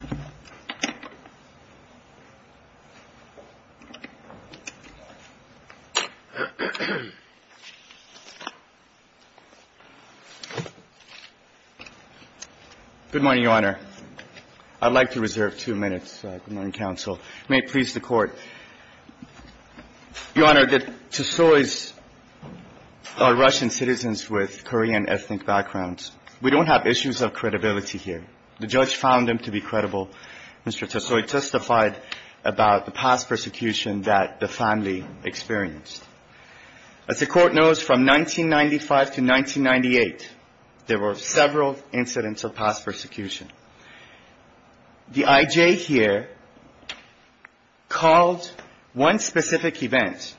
Good morning, Your Honor. I'd like to reserve two minutes. Good morning, counsel. May it please the Court. Your Honor, the Tsoys are Russian citizens with Korean ethnic backgrounds. We don't have issues of credibility here. The judge found them to be credible. Mr. Tsoy testified about the past persecution that the family experienced. As the Court knows, from 1995 to 1998, there were several incidents of past persecution. The I.J. here called one specific event,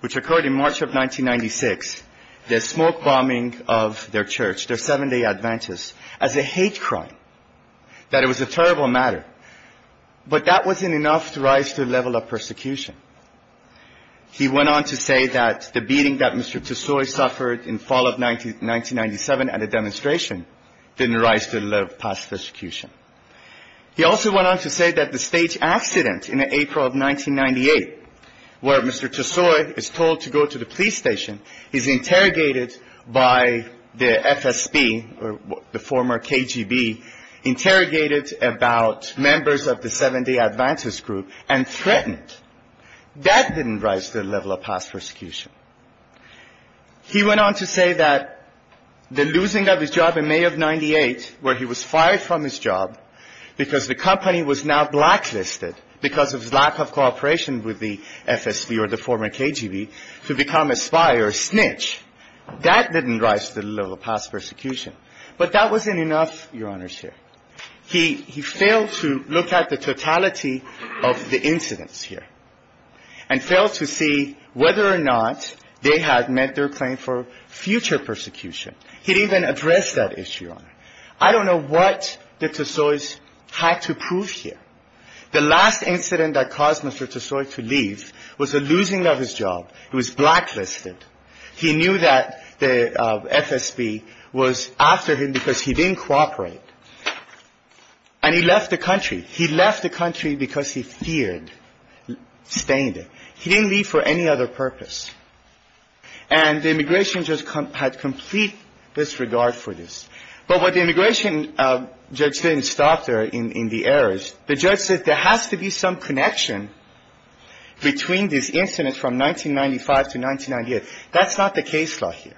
which occurred in March of 1996, the smoke bombing of their church, their seven-day Adventist, as a hate crime, that it was a terrible matter. But that wasn't enough to rise to the level of persecution. He went on to say that the beating that Mr. Tsoy suffered in fall of 1997 at a demonstration didn't rise to the level of past persecution. He also went on to say that the state accident in April of 1998, where Mr. Tsoy is told to go to the police station, is interrogated by the FSB or the former KGB, interrogated about members of the seven-day Adventist group, and threatened. That didn't rise to the level of past persecution. He went on to say that the losing of his job in May of 1998, where he was fired from his job because the company was now blacklisted because of his lack of cooperation with the FSB or the former KGB, to become a spy or a snitch, that didn't rise to the level of past persecution. But that wasn't enough, Your Honors, here. He failed to look at the totality of the incidents here and failed to see whether or not they had met their claim for future persecution. He didn't even address that issue, Your Honor. I don't know what the Tsoys had to prove here. The last incident that caused Mr. Tsoy to leave was the losing of his job. It was blacklisted. He knew that the FSB was after him because he didn't cooperate. And he left the country. He left the country because he feared staying there. He didn't leave for any other purpose. And the immigration judge had complete disregard for this. But what the immigration judge didn't stop there in the errors. The judge said there has to be some connection between these incidents from 1995 to 1998. That's not the case law here.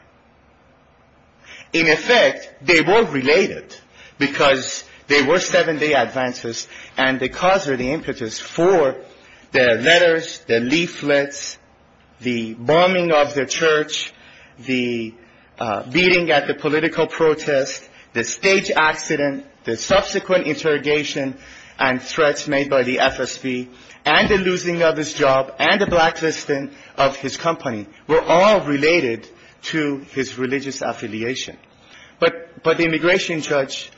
In effect, they were related because they were seven-day advances. And the cause of the impetus for their letters, their leaflets, the bombing of the church, the beating at the political protest, the stage accident, the subsequent interrogation and threats made by the FSB and the losing of his job and the blacklisting of his company were all related to his religious affiliation. But the immigration judge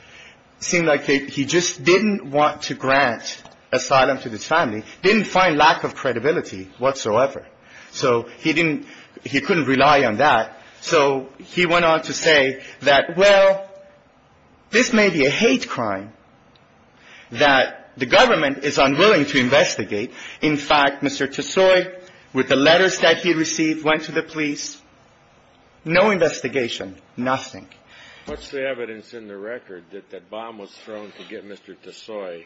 seemed like he just didn't want to grant asylum to this family, didn't find lack of credibility whatsoever. So he didn't he couldn't rely on that. So he went on to say that, well, this may be a hate crime that the government is unwilling to investigate. In fact, Mr. Tesoi, with the letters that he received, went to the police. No investigation, nothing. What's the evidence in the record that that bomb was thrown to get Mr. Tesoi?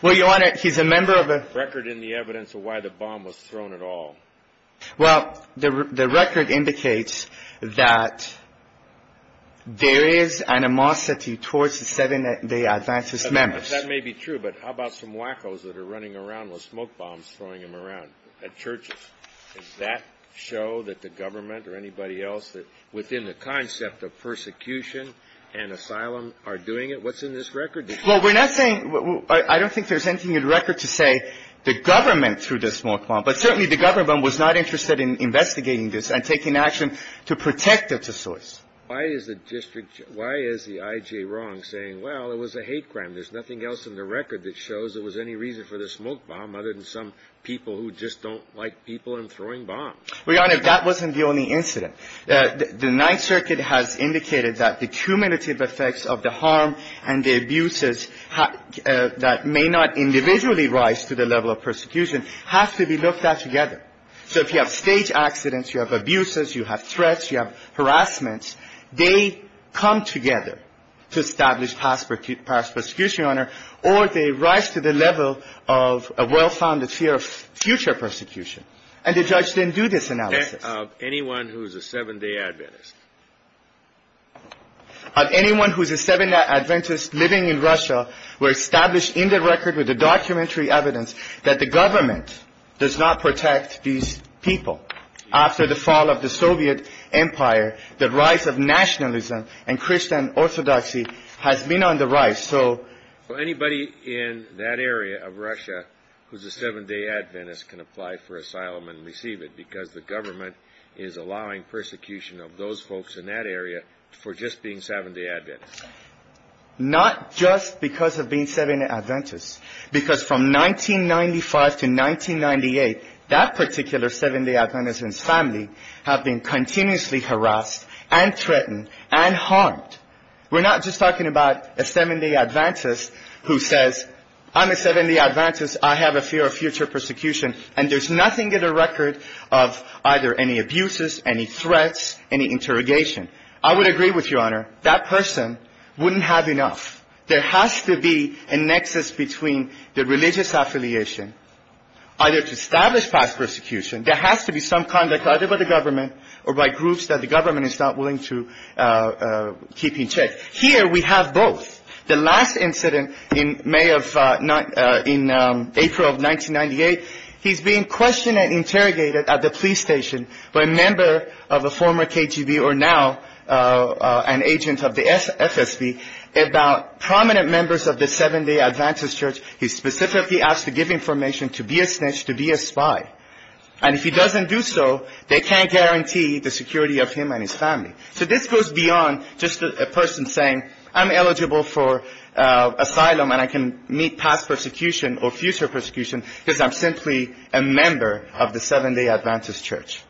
Well, Your Honor, he's a member of a record in the evidence of why the bomb was thrown at all. Well, the record indicates that there is animosity towards the seven-day advances members. That may be true. But how about some wackos that are running around with smoke bombs, throwing them around at churches? Does that show that the government or anybody else within the concept of persecution and asylum are doing it? What's in this record? Well, we're not saying – I don't think there's anything in the record to say the government threw the smoke bomb. But certainly the government was not interested in investigating this and taking action to protect Mr. Tesoi. Why is the district – why is the I.J. wrong saying, well, it was a hate crime? There's nothing else in the record that shows there was any reason for the smoke bomb other than some people who just don't like people and throwing bombs? Well, Your Honor, that wasn't the only incident. The Ninth Circuit has indicated that the cumulative effects of the harm and the abuses that may not individually rise to the level of persecution have to be looked at together. So if you have staged accidents, you have abuses, you have threats, you have harassments, they come together to establish past persecution, Your Honor, or they rise to the level of a well-founded fear of future persecution. And the judge didn't do this analysis. Of anyone who's a seven-day Adventist. Of anyone who's a seven-day Adventist living in Russia, we're established in the record with the documentary evidence that the government does not protect these people. After the fall of the Soviet empire, the rise of nationalism and Christian orthodoxy has been on the rise. So anybody in that area of Russia who's a seven-day Adventist can apply for asylum and receive it because the government is allowing persecution of those folks in that area for just being seven-day Adventists. Not just because of being seven-day Adventists. Because from 1995 to 1998, that particular seven-day Adventist's family have been continuously harassed and threatened and harmed. We're not just talking about a seven-day Adventist who says, I'm a seven-day Adventist. I have a fear of future persecution. And there's nothing in the record of either any abuses, any threats, any interrogation. I would agree with you, Your Honor. That person wouldn't have enough. There has to be a nexus between the religious affiliation either to establish past persecution. There has to be some conduct either by the government or by groups that the government is not willing to keep in check. Here we have both. The last incident in April of 1998, he's being questioned and interrogated at the police station by a member of a former KGB or now an agent of the FSB about prominent members of the seven-day Adventist church. He's specifically asked to give information, to be a snitch, to be a spy. And if he doesn't do so, they can't guarantee the security of him and his family. So this goes beyond just a person saying, I'm eligible for asylum and I can meet past persecution or future persecution because I'm simply a member of the seven-day Adventist church.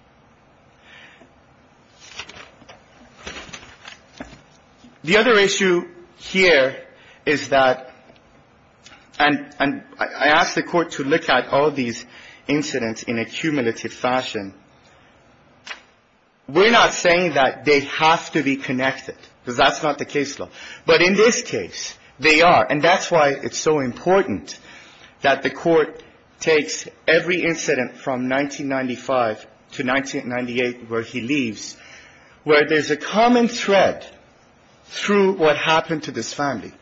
The other issue here is that, and I ask the Court to look at all these incidents in a cumulative fashion. We're not saying that they have to be connected because that's not the case law. But in this case, they are. And that's why it's so important that the Court takes every incident from 1995 to 1998 where he leaves, where there's a common thread through what happened to this family.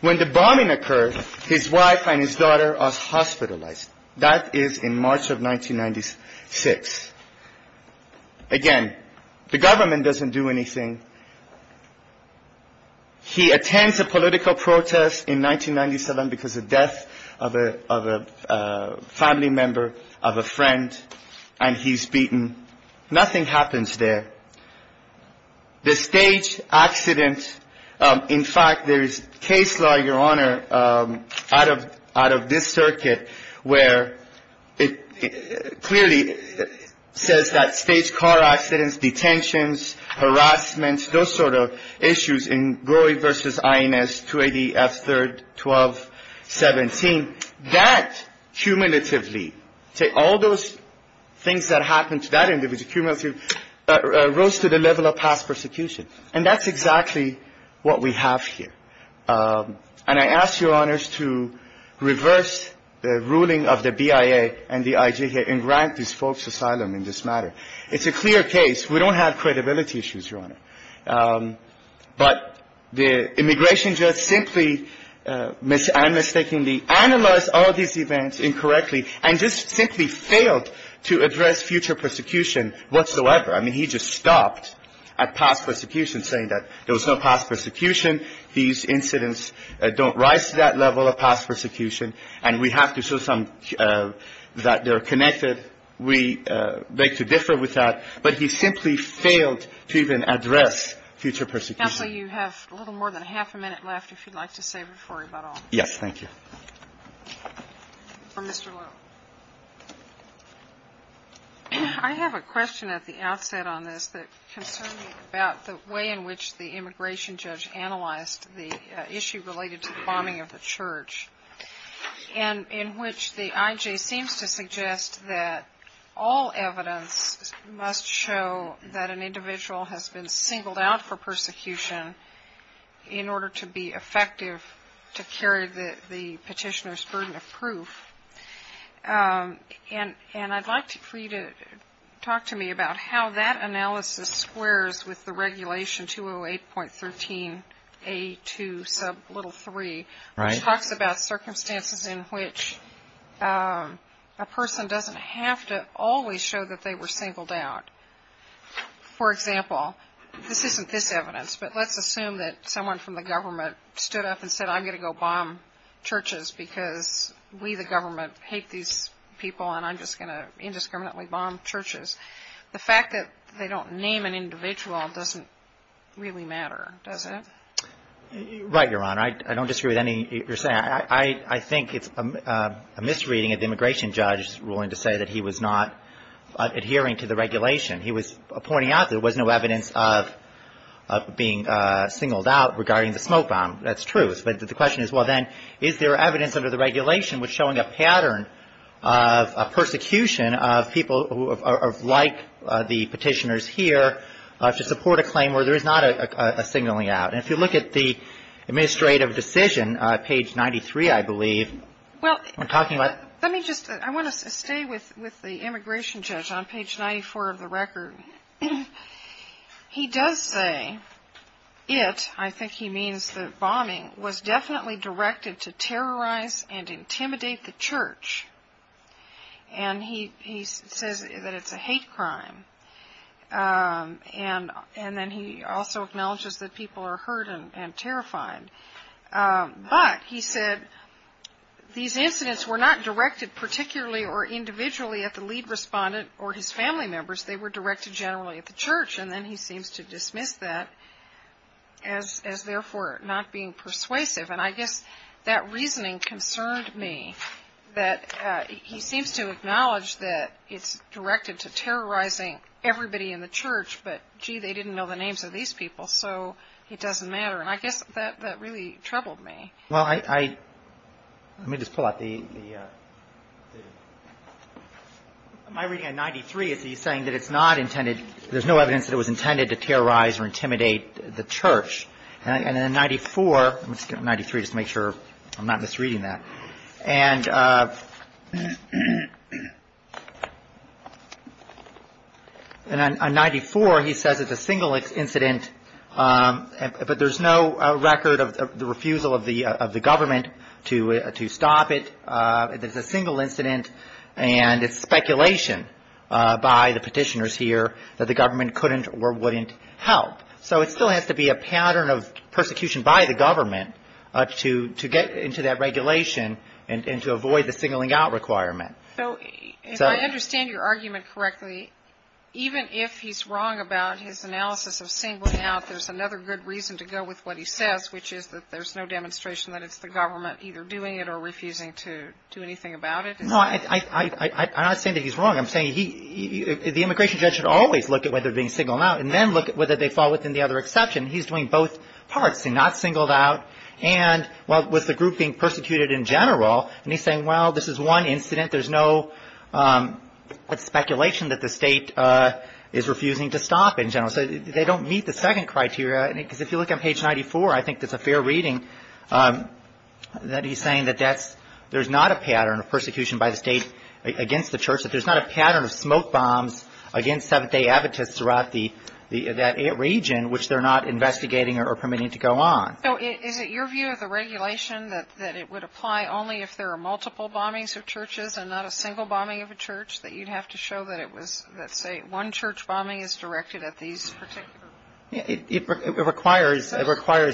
When the bombing occurred, his wife and his daughter are hospitalized. That is in March of 1996. Again, the government doesn't do anything. He attends a political protest in 1997 because of the death of a family member, of a friend. And he's beaten. Nothing happens there. The stage accident, in fact, there is case law, Your Honor, out of this circuit where it clearly says that stage car accidents, detentions, harassment, those sort of issues in Groy v. INS 280-F3-12-17, that cumulatively, all those things that happened to that individual, cumulative, rose to the level of past persecution. And that's exactly what we have here. And I ask Your Honors to reverse the ruling of the BIA and the IJK and grant these folks asylum in this matter. It's a clear case. We don't have credibility issues, Your Honor. But the immigration judge simply, and mistakenly, analyzed all these events incorrectly and just simply failed to address future persecution whatsoever. I mean, he just stopped at past persecution, saying that there was no past persecution. These incidents don't rise to that level of past persecution. And we have to show some that they're connected. We beg to differ with that. But he simply failed to even address future persecution. Counsel, you have a little more than half a minute left, if you'd like to save it for about all. Yes, thank you. For Mr. Lowe. I have a question at the outset on this that concerns me about the way in which the immigration judge analyzed the issue related to the bombing of the church. And in which the IJ seems to suggest that all evidence must show that an individual has been singled out for persecution in order to be effective to carry the petitioner's burden of proof. And I'd like for you to talk to me about how that analysis squares with the regulation 208.13A2 sub little 3, which talks about circumstances in which a person doesn't have to always show that they were singled out. For example, this isn't this evidence, but let's assume that someone from the government stood up and said, I'm going to go bomb churches because we, the government, hate these people, and I'm just going to indiscriminately bomb churches. The fact that they don't name an individual doesn't really matter, does it? Right, Your Honor. I don't disagree with anything you're saying. I think it's a misreading of the immigration judge's ruling to say that he was not adhering to the regulation. He was pointing out that there was no evidence of being singled out regarding the smoke bomb. That's true. But the question is, well, then, is there evidence under the regulation showing a pattern of persecution of people who are like the petitioners here to support a claim where there is not a signaling out? And if you look at the administrative decision, page 93, I believe, we're talking about ---- Let me just, I want to stay with the immigration judge on page 94 of the record. He does say it, I think he means the bombing, was definitely directed to terrorize and intimidate the church. And he says that it's a hate crime. And then he also acknowledges that people are hurt and terrified. But he said these incidents were not directed particularly or individually at the lead respondent or his family members. They were directed generally at the church. And then he seems to dismiss that as therefore not being persuasive. And I guess that reasoning concerned me, that he seems to acknowledge that it's directed to terrorizing everybody in the church. But, gee, they didn't know the names of these people, so it doesn't matter. And I guess that really troubled me. Well, I, let me just pull out the, my reading on 93 is he's saying that it's not intended, there's no evidence that it was intended to terrorize or intimidate the church. And then 94, 93, just to make sure I'm not misreading that. And on 94, he says it's a single incident, but there's no record of the refusal of the government to stop it. It's a single incident. And it's speculation by the petitioners here that the government couldn't or wouldn't help. So it still has to be a pattern of persecution by the government to get into that regulation and to avoid the singling out requirement. So if I understand your argument correctly, even if he's wrong about his analysis of singling out, there's another good reason to go with what he says, which is that there's no demonstration that it's the government either doing it or refusing to do anything about it. No, I'm not saying that he's wrong. I'm saying he, the immigration judge should always look at whether they're being singled out and then look at whether they fall within the other exception. He's doing both parts, not singled out and, well, with the group being persecuted in general. And he's saying, well, this is one incident. There's no speculation that the state is refusing to stop in general. So they don't meet the second criteria because if you look on page 94, I think that's a fair reading that he's saying that that's, there's not a pattern of persecution by the state against the church, that there's not a pattern of smoke bombs against Seventh-day Adventists throughout that region, which they're not investigating or permitting to go on. So is it your view of the regulation that it would apply only if there are multiple bombings of churches and not a single bombing of a church, that you'd have to show that it was, let's say, one church bombing is directed at these particular groups? It requires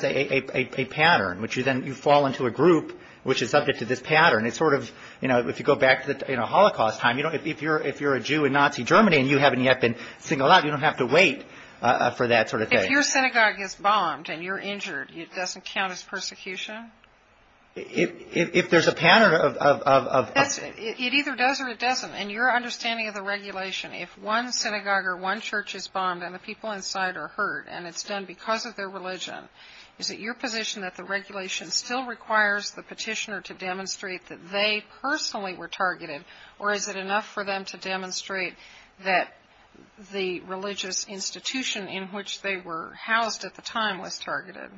a pattern, which you then, you fall into a group which is subject to this pattern. It's sort of, you know, if you go back to the Holocaust time, if you're a Jew in Nazi Germany and you haven't yet been singled out, you don't have to wait for that sort of thing. If your synagogue gets bombed and you're injured, it doesn't count as persecution? If there's a pattern of... It either does or it doesn't. In your understanding of the regulation, if one synagogue or one church is bombed and the people inside are hurt, and it's done because of their religion, is it your position that the regulation still requires the petitioner to demonstrate that they personally were targeted, or is it enough for them to demonstrate that the religious institution in which they were housed at the time was targeted?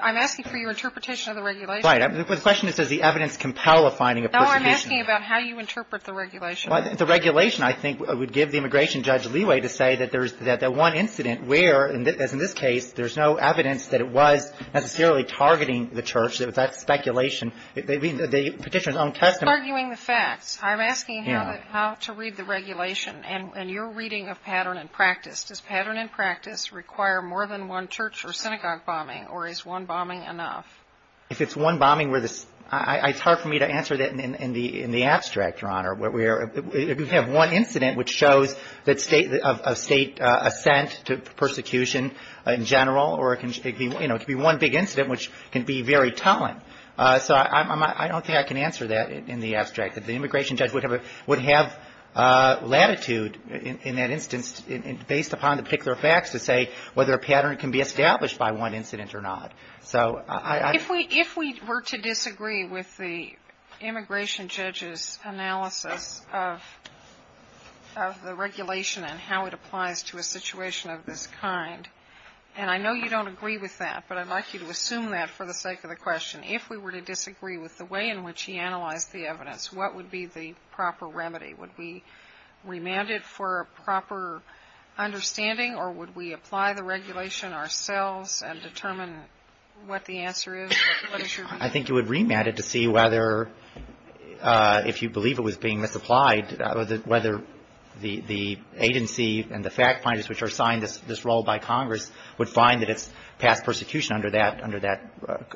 I'm asking for your interpretation of the regulation. Right. The question is, does the evidence compel a finding of persecution? No, I'm asking about how you interpret the regulation. The regulation, I think, would give the immigration judge leeway to say that there's that one incident where, as in this case, there's no evidence that it was necessarily targeting the church, that that's speculation. The petitioner's own testimony... You're arguing the facts. I'm asking how to read the regulation. And your reading of pattern and practice, does pattern and practice require more than one church or synagogue bombing, or is one bombing enough? If it's one bombing where the... It's hard for me to answer that in the abstract, Your Honor. If you have one incident which shows a state assent to persecution in general, or it can be one big incident which can be very telling. So I don't think I can answer that in the abstract. The immigration judge would have latitude in that instance, based upon the particular facts, to say whether a pattern can be established by one incident or not. If we were to disagree with the immigration judge's analysis of the regulation and how it applies to a situation of this kind, and I know you don't agree with that, but I'd like you to assume that for the sake of the question. If we were to disagree with the way in which he analyzed the evidence, what would be the proper remedy? Would we remand it for a proper understanding, or would we apply the regulation ourselves and determine what the answer is? What is your view? I think you would remand it to see whether, if you believe it was being misapplied, whether the agency and the fact finders which are assigned this role by Congress would find that it's past persecution under that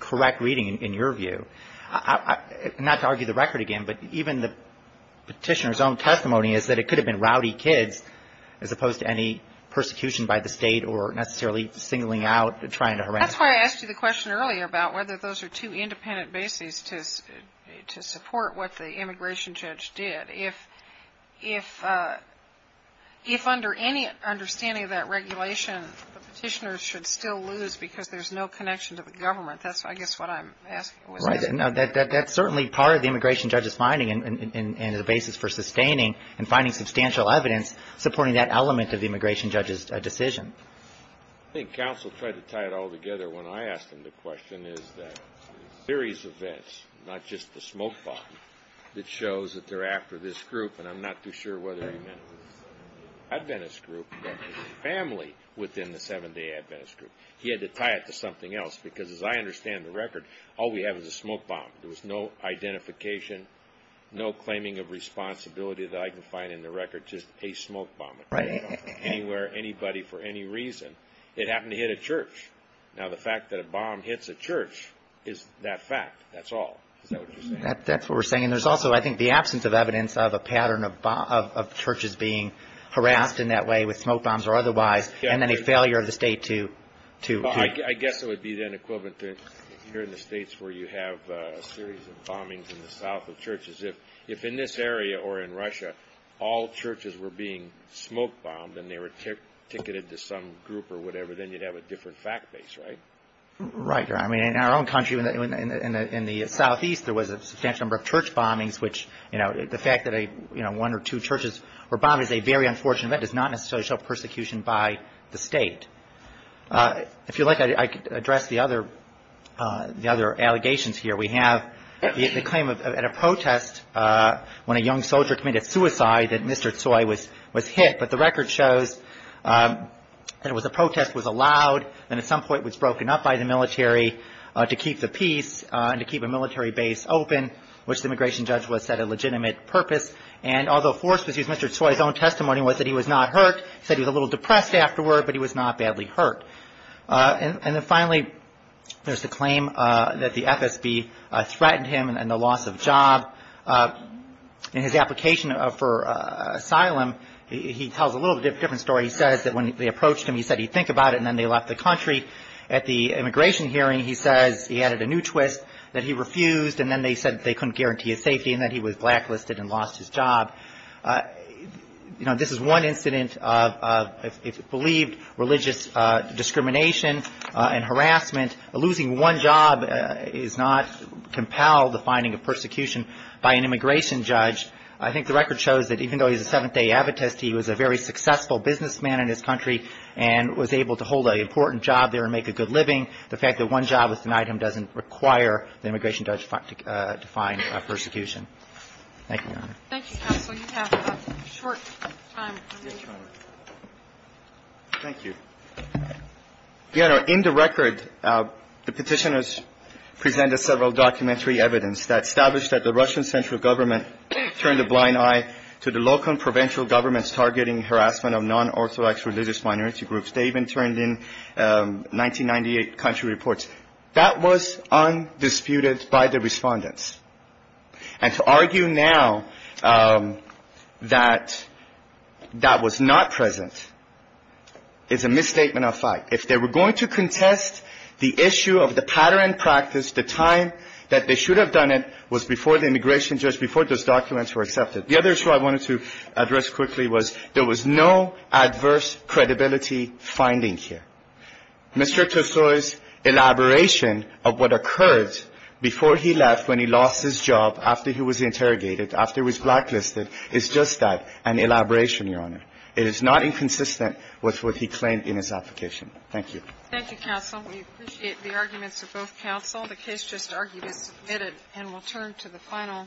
correct reading, in your view. Not to argue the record again, but even the petitioner's own testimony is that it could have been rowdy kids as opposed to any persecution by the state or necessarily singling out trying to harass them. That's why I asked you the question earlier about whether those are two independent bases to support what the immigration judge did. If under any understanding of that regulation, the petitioner should still lose because there's no connection to the government. That's, I guess, what I'm asking. Right. That's certainly part of the immigration judge's finding and the basis for sustaining and finding substantial evidence supporting that element of the immigration judge's decision. I think counsel tried to tie it all together when I asked him the question, is that a series of events, not just the smoke bomb, that shows that they're after this group, and I'm not too sure whether he meant Adventist group, but the family within the Seventh-Day Adventist group. He had to tie it to something else because, as I understand the record, all we have is a smoke bomb. There was no identification, no claiming of responsibility that I can find in the record, just a smoke bomb. Right. Anywhere, anybody, for any reason. It happened to hit a church. Now, the fact that a bomb hits a church is that fact. That's all. Is that what you're saying? That's what we're saying. There's also, I think, the absence of evidence of a pattern of churches being harassed in that way with smoke bombs or otherwise and then a failure of the state to... in the south of churches. If in this area or in Russia all churches were being smoke bombed and they were ticketed to some group or whatever, then you'd have a different fact base, right? Right. I mean, in our own country, in the southeast, there was a substantial number of church bombings, which the fact that one or two churches were bombed is a very unfortunate event. It's not necessarily self-persecution by the state. If you like, I could address the other allegations here. We have the claim at a protest when a young soldier committed suicide that Mr. Tsoi was hit, but the record shows that it was a protest, was allowed, and at some point was broken up by the military to keep the peace and to keep a military base open, which the immigration judge was set a legitimate purpose. And although forced, Mr. Tsoi's own testimony was that he was not hurt. He said he was a little depressed afterward, but he was not badly hurt. And then finally, there's the claim that the FSB threatened him and the loss of job. In his application for asylum, he tells a little different story. He says that when they approached him, he said he'd think about it, and then they left the country. At the immigration hearing, he says he added a new twist, that he refused, and then they said they couldn't guarantee his safety and that he was blacklisted and lost his job. You know, this is one incident of, it's believed, religious discrimination and harassment. Losing one job is not compelled, the finding of persecution, by an immigration judge. I think the record shows that even though he's a seventh-day abbotist, he was a very successful businessman in his country and was able to hold an important job there and make a good living. The fact that one job was denied him doesn't require the immigration judge to find persecution. Thank you, Your Honor. Thank you, Counsel. You have a short time remaining. Thank you. Your Honor, in the record, the petitioners presented several documentary evidence that established that the Russian central government turned a blind eye to the local and provincial governments targeting harassment of non-Orthodox religious minority groups. They even turned in 1998 country reports. That was undisputed by the respondents. And to argue now that that was not present is a misstatement of fact. If they were going to contest the issue of the pattern and practice, the time that they should have done it was before the immigration judge, before those documents were accepted. The other issue I wanted to address quickly was there was no adverse credibility finding here. Mr. Tesoi's elaboration of what occurred before he left, when he lost his job, after he was interrogated, after he was blacklisted, is just that, an elaboration, Your Honor. It is not inconsistent with what he claimed in his application. Thank you. Thank you, Counsel. We appreciate the arguments of both counsel. The case just argued is submitted, and we'll turn to the final.